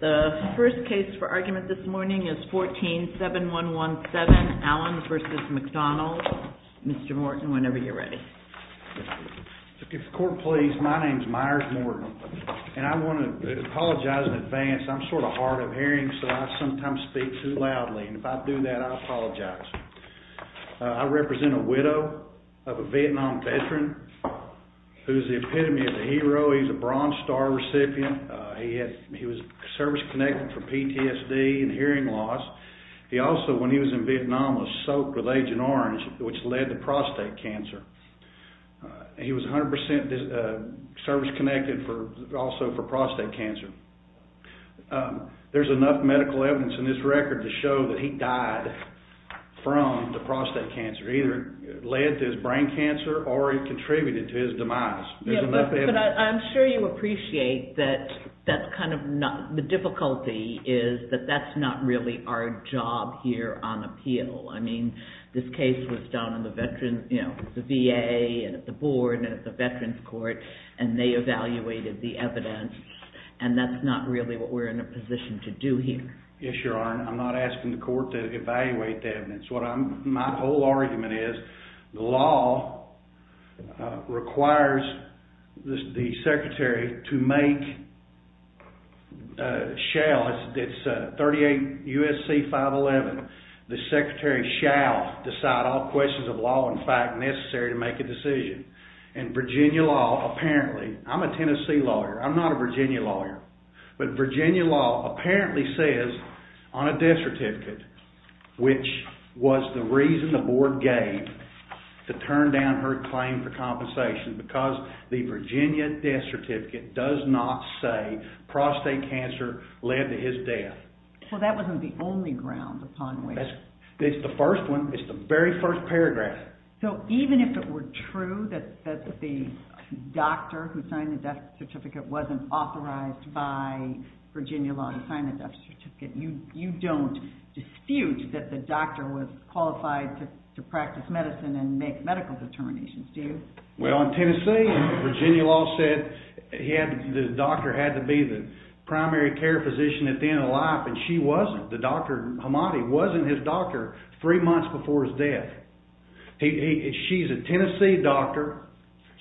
The first case for argument this morning is 14-7117, Allen v. McDonald. Mr. Morton, whenever you're ready. If the court please, my name is Myers Morton, and I want to apologize in advance. I'm sort of hard of hearing, so I sometimes speak too loudly, and if I do that, I apologize. I represent a widow of a Vietnam veteran whose epitome is a hero. He's a Bronze Star recipient. He was service-connected for PTSD and hearing loss. He also, when he was in Vietnam, was soaked with Agent Orange, which led to prostate cancer. He was 100% service-connected also for prostate cancer. There's enough medical evidence in this record to show that he died from the prostate cancer. It either led to his brain cancer, or it contributed to his demise. But I'm sure you appreciate that the difficulty is that that's not really our job here on appeal. I mean, this case was done on the VA and at the board and at the Veterans Court, and they evaluated the evidence, and that's not really what we're in a position to do here. Yes, Your Honor, I'm not asking the court to evaluate the evidence. My whole argument is the law requires the Secretary to make, shall, it's 38 U.S.C. 511, the Secretary shall decide all questions of law and fact necessary to make a decision. And Virginia law apparently, I'm a Tennessee lawyer, I'm not a Virginia lawyer, but Virginia law apparently says on a death certificate, which was the reason the board gave to turn down her claim for compensation, because the Virginia death certificate does not say prostate cancer led to his death. Well, that wasn't the only ground upon which. It's the first one. It's the very first paragraph. So even if it were true that the doctor who signed the death certificate wasn't authorized by Virginia law to sign the death certificate, you don't dispute that the doctor was qualified to practice medicine and make medical determinations, do you? Well, in Tennessee, Virginia law said the doctor had to be the primary care physician at the end of life, and she wasn't. Dr. Hamadi wasn't his doctor three months before his death. She's a Tennessee doctor.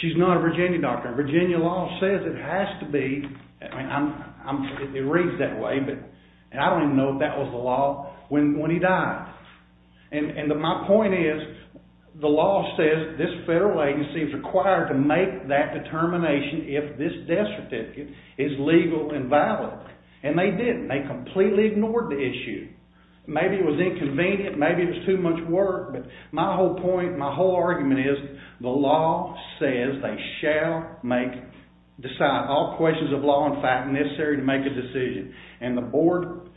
She's not a Virginia doctor. Virginia law says it has to be, it reads that way, but I don't even know if that was the law when he died. And my point is, the law says this federal agency is required to make that determination if this death certificate is legal and valid. And they didn't. They completely ignored the issue. Maybe it was inconvenient. Maybe it was too much work. But my whole point, my whole argument is the law says they shall make, decide all questions of law and fact necessary to make a decision, and the board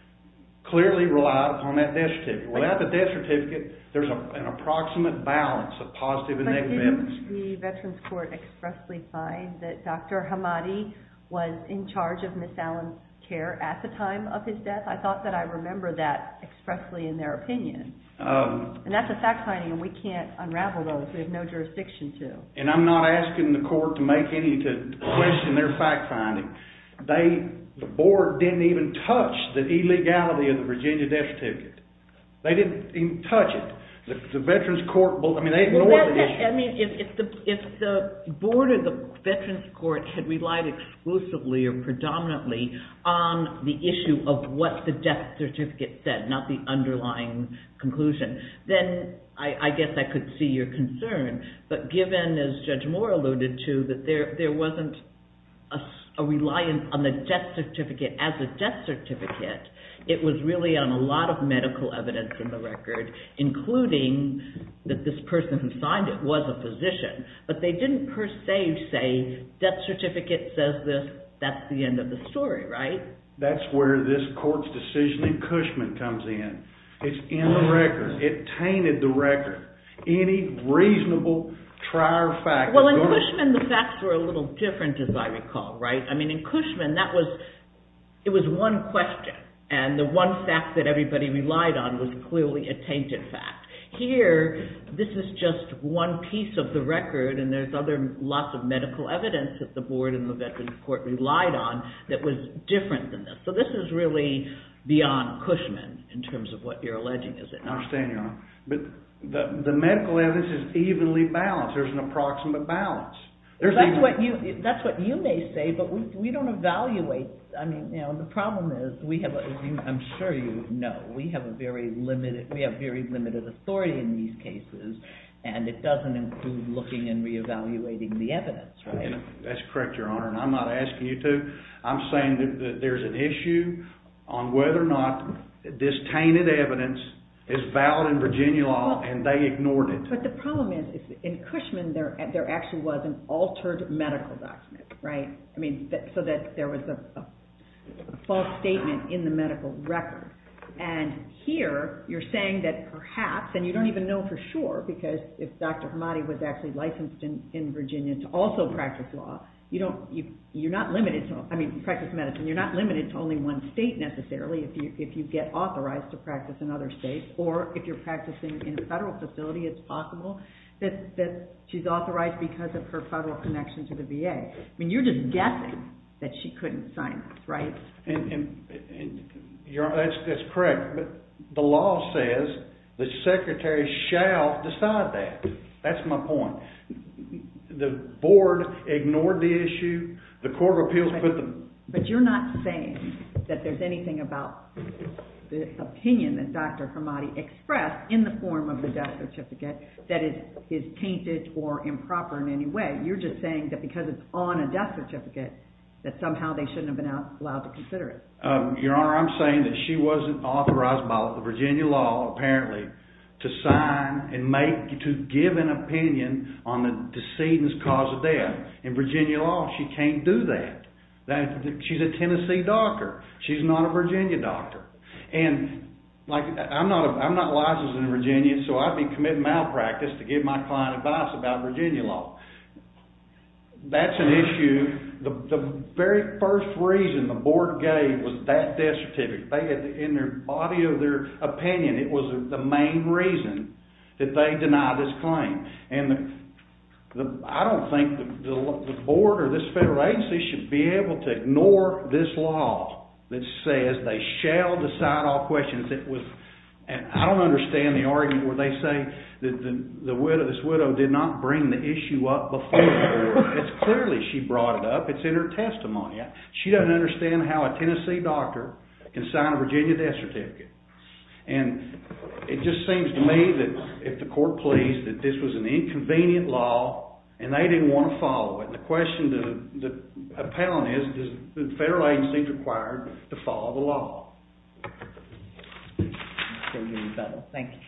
clearly relied upon that death certificate. Without the death certificate, there's an approximate balance of positive and negative evidence. Didn't the Veterans Court expressly find that Dr. Hamadi was in charge of Ms. Allen's care at the time of his death? I thought that I remember that expressly in their opinion. And that's a fact finding, and we can't unravel those. We have no jurisdiction to. And I'm not asking the court to make any, to question their fact finding. They, the board didn't even touch the illegality of the Virginia death certificate. They didn't even touch it. The Veterans Court, I mean they ignored the issue. I mean, if the board or the Veterans Court had relied exclusively or predominantly on the issue of what the death certificate said, not the underlying conclusion, then I guess I could see your concern. But given, as Judge Moore alluded to, that there wasn't a reliance on the death certificate as a death certificate, it was really on a lot of medical evidence in the record, including that this person who signed it was a physician. But they didn't per se say, death certificate says this, that's the end of the story, right? That's where this court's decision in Cushman comes in. It's in the record. It tainted the record. Any reasonable trier fact… So this is really beyond Cushman in terms of what you're alleging, is it not? I understand, Your Honor. But the medical evidence is evenly balanced. There's an approximate balance. That's what you may say, but we don't evaluate. I mean, you know, the problem is we have, as I'm sure you know, we have a very limited, we have very limited authority in these cases, and it doesn't include looking and reevaluating the evidence, right? That's correct, Your Honor, and I'm not asking you to. I'm saying that there's an issue on whether or not this tainted evidence is valid in Virginia law, and they ignored it. But the problem is, in Cushman, there actually was an altered medical document, right? I mean, so that there was a false statement in the medical record. And here, you're saying that perhaps, and you don't even know for sure, because if Dr. Hamadi was actually licensed in Virginia to also practice law, you don't, you're not limited to, I mean, practice medicine, you're not limited to only one state necessarily, if you get authorized to practice in other states, or if you're practicing in a federal facility, it's possible that she's authorized because of her federal connection to the VA. I mean, you're just guessing that she couldn't sign this, right? That's correct, but the law says the Secretary shall decide that. That's my point. The Board ignored the issue, the Court of Appeals put the… But you're not saying that there's anything about the opinion that Dr. Hamadi expressed in the form of the death certificate that is tainted or improper in any way. You're just saying that because it's on a death certificate, that somehow they shouldn't have been allowed to consider it. Your Honor, I'm saying that she wasn't authorized by the Virginia law, apparently, to sign and make, to give an opinion on the decedent's cause of death. In Virginia law, she can't do that. She's a Tennessee doctor. She's not a Virginia doctor. And, like, I'm not licensed in Virginia, so I've been committing malpractice to give my client advice about Virginia law. That's an issue. The very first reason the Board gave was that death certificate. They had, in the body of their opinion, it was the main reason that they denied this claim. And I don't think the Board or this federal agency should be able to ignore this law that says they shall decide all questions. I don't understand the argument where they say that this widow did not bring the issue up before the Board. It's clearly she brought it up. It's in her testimony. She doesn't understand how a Tennessee doctor can sign a Virginia death certificate. And it just seems to me that if the court plays that this was an inconvenient law and they didn't want to follow it, the question to the appellant is, does the federal agency require to follow the law? Thank you.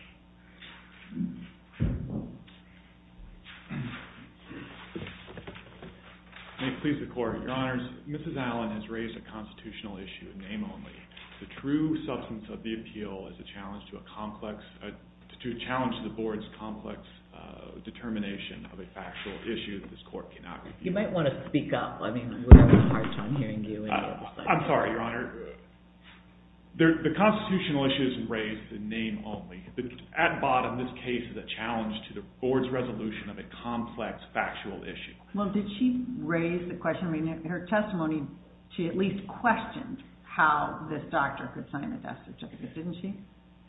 May it please the Court. Your Honors, Mrs. Allen has raised a constitutional issue, name only. The true substance of the appeal is a challenge to the Board's complex determination of a factual issue that this Court cannot review. You might want to speak up. I mean, we're having a hard time hearing you. I'm sorry, Your Honor. The constitutional issue isn't raised in name only. At bottom, this case is a challenge to the Board's resolution of a complex factual issue. Well, did she raise the question, I mean, in her testimony, she at least questioned how this doctor could sign a death certificate, didn't she?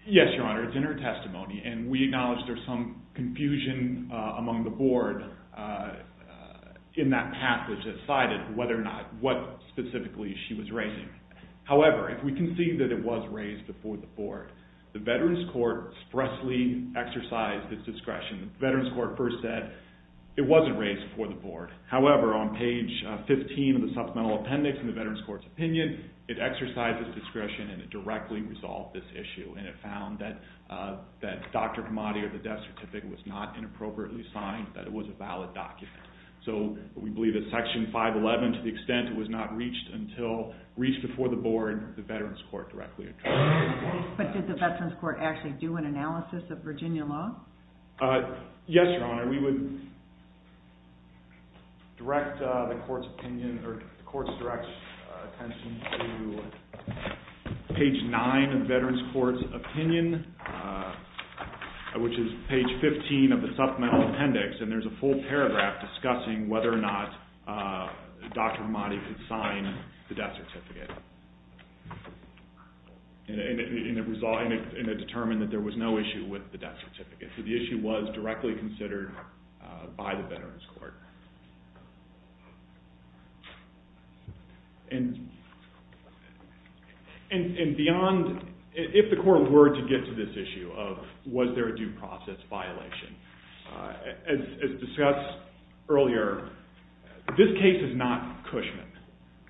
Yes, Your Honor. It's in her testimony. And we acknowledge there's some confusion among the Board in that passage that cited whether or not what specifically she was raising. However, if we can see that it was raised before the Board, the Veterans Court expressly exercised its discretion. The Veterans Court first said it wasn't raised before the Board. And it found that Dr. Kamadi or the death certificate was not inappropriately signed, that it was a valid document. So we believe that Section 511, to the extent it was not reached before the Board, the Veterans Court directly addressed it. But did the Veterans Court actually do an analysis of Virginia law? Yes, Your Honor. We would direct the Court's opinion or the Court's direct attention to page 9 of the Veterans Court's opinion, which is page 15 of the supplemental appendix. And there's a full paragraph discussing whether or not Dr. Kamadi could sign the death certificate. And it determined that there was no issue with the death certificate. So the issue was directly considered by the Veterans Court. And beyond if the Court were to get to this issue of was there a due process violation, as discussed earlier, this case is not Cushman.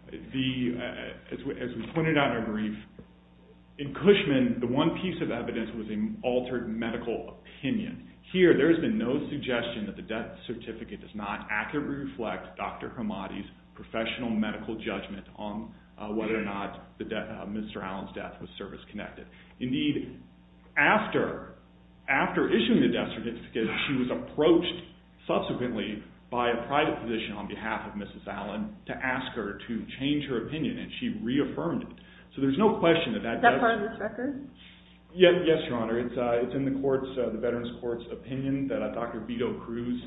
As we pointed out in our brief, in Cushman, the one piece of evidence was an altered medical opinion. Here, there has been no suggestion that the death certificate does not accurately reflect Dr. Kamadi's professional medical judgment on whether or not Mr. Allen's death was service-connected. Indeed, after issuing the death certificate, she was approached subsequently by a private physician on behalf of Mrs. Allen to ask her to change her opinion, and she reaffirmed it. Is that part of this record? Yes, Your Honor. It's in the Veterans Court's opinion that Dr. Beto Cruz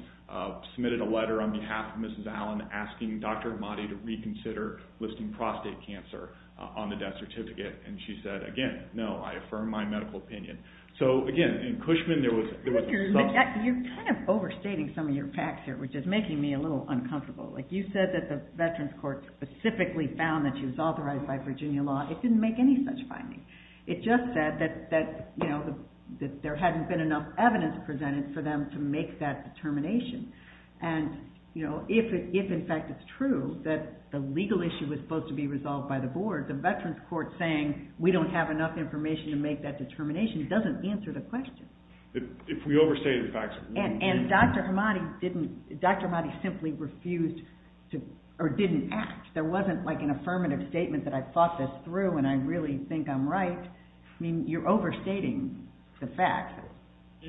submitted a letter on behalf of Mrs. Allen asking Dr. Kamadi to reconsider listing prostate cancer on the death certificate. And she said, again, no, I affirm my medical opinion. You're kind of overstating some of your facts here, which is making me a little uncomfortable. You said that the Veterans Court specifically found that she was authorized by Virginia law. It didn't make any such findings. It just said that there hadn't been enough evidence presented for them to make that determination. And, you know, if in fact it's true that the legal issue was supposed to be resolved by the board, the Veterans Court saying we don't have enough information to make that determination doesn't answer the question. If we overstated the facts, it wouldn't. And Dr. Kamadi didn't, Dr. Kamadi simply refused to, or didn't act. There wasn't, like, an affirmative statement that I thought this through and I really think I'm right. I mean, you're overstating the facts.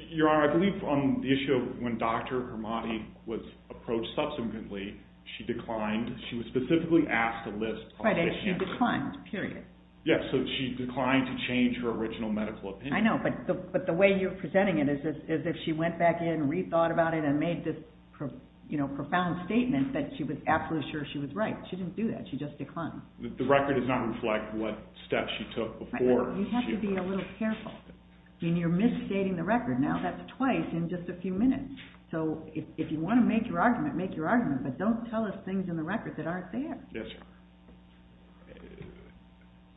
Your Honor, I believe on the issue of when Dr. Kamadi was approached subsequently, she declined. She was specifically asked to list prostate cancer. Right, and she declined, period. Yes, so she declined to change her original medical opinion. I know, but the way you're presenting it is as if she went back in, rethought about it, and made this profound statement that she was absolutely sure she was right. She didn't do that. She just declined. The record does not reflect what steps she took before. You have to be a little careful. I mean, you're misstating the record. Now, that's twice in just a few minutes. So, if you want to make your argument, make your argument, but don't tell us things in the record that aren't there. Yes, Your Honor.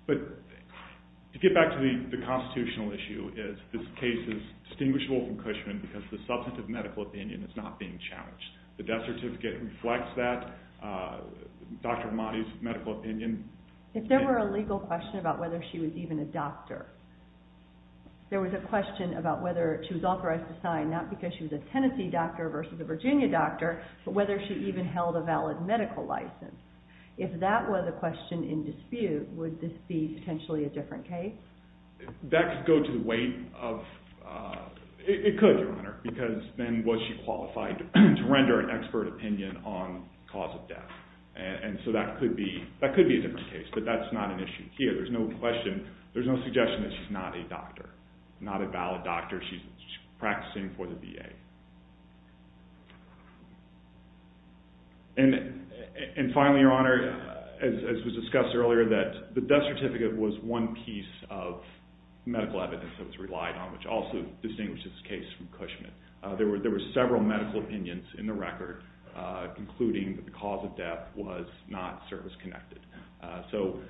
But, to get back to the constitutional issue, this case is distinguishable from Cushman because the substantive medical opinion is not being challenged. The death certificate reflects that. Dr. Kamadi's medical opinion... If there were a legal question about whether she was even a doctor, there was a question about whether she was authorized to sign, not because she was a Tennessee doctor versus a Virginia doctor, but whether she even held a valid medical license. If that was a question in dispute, would this be potentially a different case? That could go to the weight of... It could, Your Honor, because then was she qualified to render an expert opinion on cause of death. So, that could be a different case, but that's not an issue here. There's no question, there's no suggestion that she's not a doctor, not a valid doctor. She's practicing for the VA. And finally, Your Honor, as was discussed earlier, that the death certificate was one piece of medical evidence that was relied on, which also distinguishes this case from Cushman. There were several medical opinions in the record, including that the cause of death was not service-connected. So,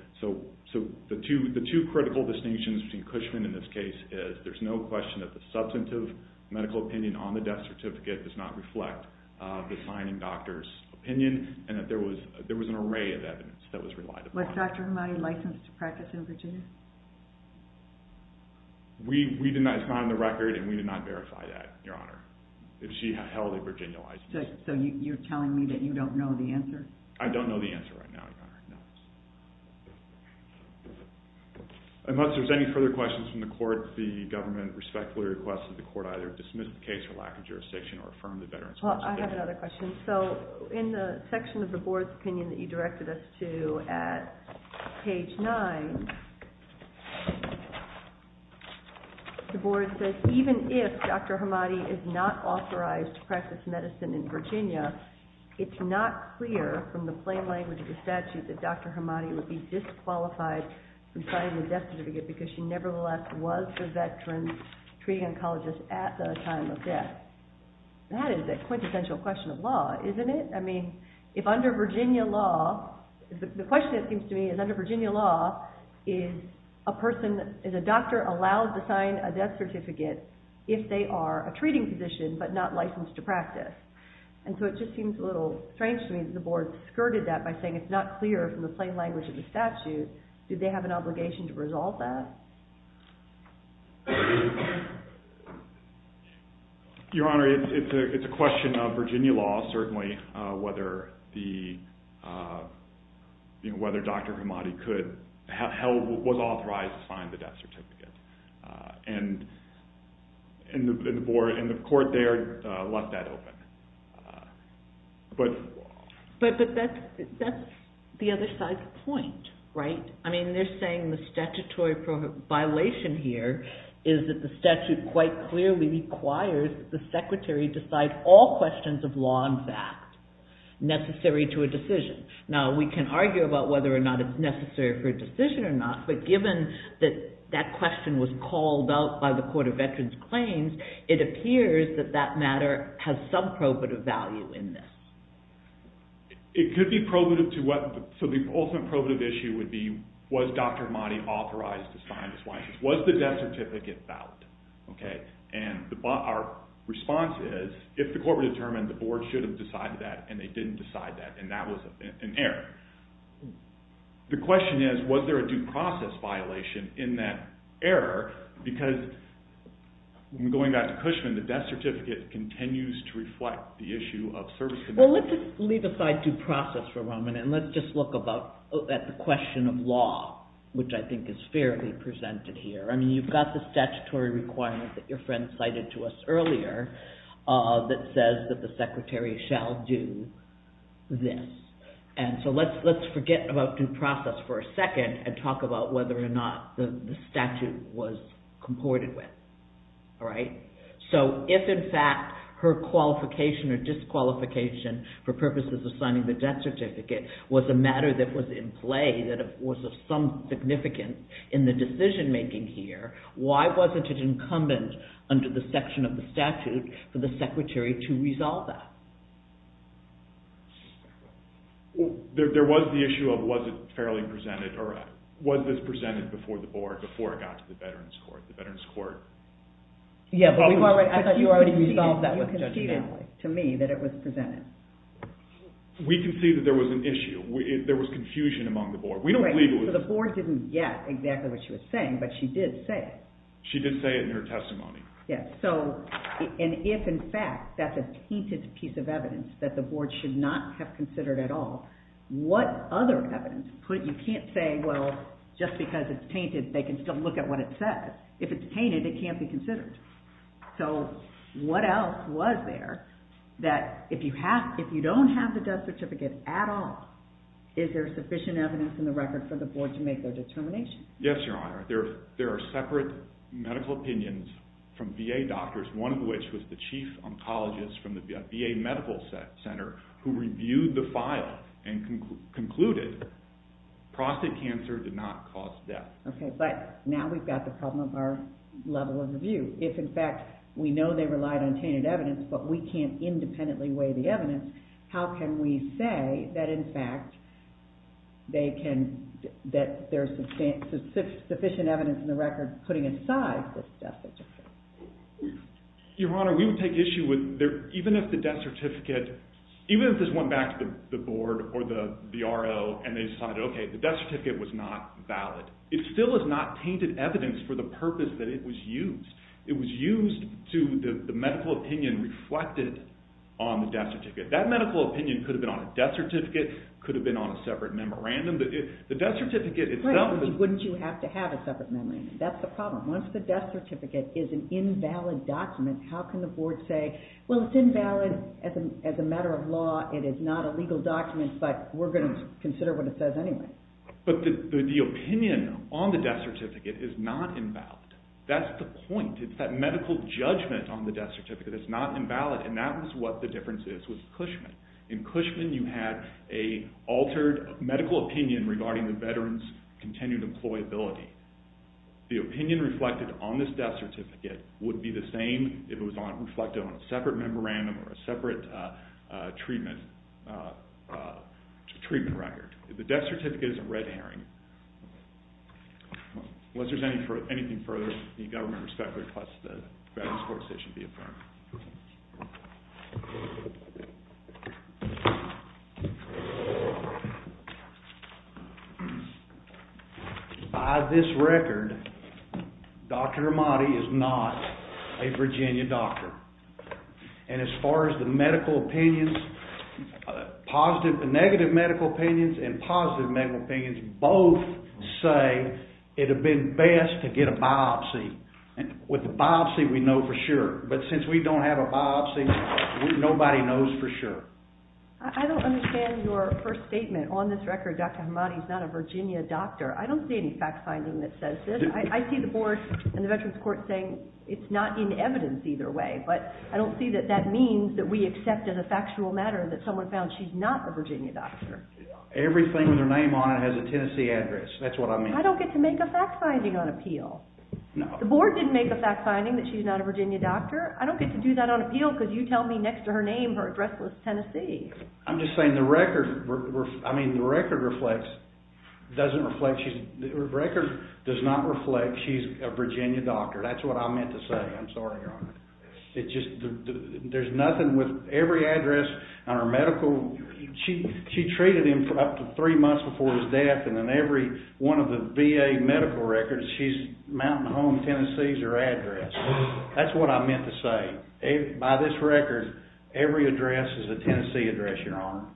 the two critical distinctions between Cushman and this case is there's no question that the substantive medical opinion on the death certificate does not reflect the signing doctor's opinion, and that there was an array of evidence that was relied upon. Was Dr. Kamadi licensed to practice in Virginia? We did not sign the record, and we did not verify that, Your Honor, if she held a Virginia license. So, you're telling me that you don't know the answer? I don't know the answer right now, Your Honor, no. Unless there's any further questions from the court, the government respectfully requests that the court either dismiss the case for lack of jurisdiction or affirm the veteran's responsibility. Well, I have another question. So, in the section of the board's opinion that you directed us to at page 9, the board says, even if Dr. Kamadi is not authorized to practice medicine in Virginia, it's not clear from the plain language of the statute that Dr. Kamadi would be disqualified from signing the death certificate because she nevertheless was a veteran treating oncologist at the time of death. That is a quintessential question of law, isn't it? I mean, if under Virginia law, the question that seems to me is under Virginia law, is a doctor allowed to sign a death certificate if they are a treating physician but not licensed to practice? And so it just seems a little strange to me that the board skirted that by saying it's not clear from the plain language of the statute. Did they have an obligation to resolve that? Your Honor, it's a question of Virginia law, certainly, whether Dr. Kamadi was authorized to sign the death certificate. And the court there left that open. But that's the other side's point, right? I mean, they're saying the statutory violation here is that the statute quite clearly requires that the secretary decide all questions of law and fact necessary to a decision. Now, we can argue about whether or not it's necessary for a decision or not, but given that that question was called out by the Court of Veterans Claims, it appears that that matter has some probative value in this. It could be probative to what – so the ultimate probative issue would be, was Dr. Kamadi authorized to sign this license? Was the death certificate valid? And our response is, if the court would have determined the board should have decided that and they didn't decide that and that was an error. The question is, was there a due process violation in that error? Because, going back to Cushman, the death certificate continues to reflect the issue of serviceability. Well, let's just leave aside due process for a moment and let's just look at the question of law, which I think is fairly presented here. I mean, you've got the statutory requirement that your friend cited to us earlier that says that the secretary shall do this. And so let's forget about due process for a second and talk about whether or not the statute was comported with, all right? So, if in fact her qualification or disqualification for purposes of signing the death certificate was a matter that was in play, that was of some significance in the decision making here, why wasn't it incumbent under the section of the statute for the secretary to resolve that? There was the issue of was it fairly presented or was this presented before the board, before it got to the Veterans Court? Yeah, but I thought you already resolved that with Judge Manley. You conceded to me that it was presented. We conceded there was an issue. There was confusion among the board. Right, so the board didn't get exactly what she was saying, but she did say it. She did say it in her testimony. Yes, and if in fact that's a tainted piece of evidence that the board should not have considered at all, what other evidence? You can't say, well, just because it's tainted, they can still look at what it says. If it's tainted, it can't be considered. So what else was there that if you don't have the death certificate at all, is there sufficient evidence in the record for the board to make their determination? Yes, Your Honor. There are separate medical opinions from VA doctors, one of which was the chief oncologist from the VA Medical Center, who reviewed the file and concluded prostate cancer did not cause death. Okay, but now we've got the problem of our level of review. If in fact we know they relied on tainted evidence, but we can't independently weigh the evidence, how can we say that in fact there's sufficient evidence in the record putting aside the death certificate? Your Honor, we would take issue with even if the death certificate, even if this went back to the board or the RO and they decided, okay, the death certificate was not valid. It still is not tainted evidence for the purpose that it was used. It was used to, the medical opinion reflected on the death certificate. That medical opinion could have been on a death certificate, could have been on a separate memorandum, but the death certificate itself… Right, wouldn't you have to have a separate memorandum? That's the problem. Once the death certificate is an invalid document, how can the board say, well, it's invalid as a matter of law, it is not a legal document, but we're going to consider what it says anyway. But the opinion on the death certificate is not invalid. That's the point. It's that medical judgment on the death certificate that's not invalid, and that was what the difference is with Cushman. In Cushman, you had an altered medical opinion regarding the veteran's continued employability. The opinion reflected on this death certificate would be the same if it was reflected on a separate memorandum or a separate treatment record. The death certificate is a red herring. Unless there's anything further, the government respectfully requests that the Veterans Court Station be affirmed. By this record, Dr. Amati is not a Virginia doctor. And as far as the medical opinions, positive and negative medical opinions and positive medical opinions both say it would have been best to get a biopsy. With a biopsy, we know for sure, but since we don't have a biopsy, nobody knows for sure. I don't understand your first statement. On this record, Dr. Amati is not a Virginia doctor. I don't see any fact-finding that says this. I see the board and the Veterans Court saying it's not in evidence either way, but I don't see that that means that we accept as a factual matter that someone found she's not a Virginia doctor. Everything with her name on it has a Tennessee address. That's what I mean. I don't get to make a fact-finding on appeal. The board didn't make a fact-finding that she's not a Virginia doctor. I don't get to do that on appeal because you tell me next to her name her address was Tennessee. I'm just saying the record, I mean, the record reflects, doesn't reflect, the record does not reflect she's a Virginia doctor. That's what I meant to say. I'm sorry, Your Honor. It just, there's nothing with every address on her medical, she treated him for up to three months before his death and then every one of the VA medical records, she's Mountain Home, Tennessee is her address. That's what I meant to say. By this record, every address is a Tennessee address, Your Honor.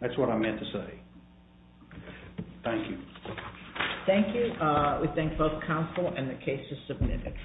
That's what I meant to say. Thank you. Thank you. We thank both counsel and the cases submitted.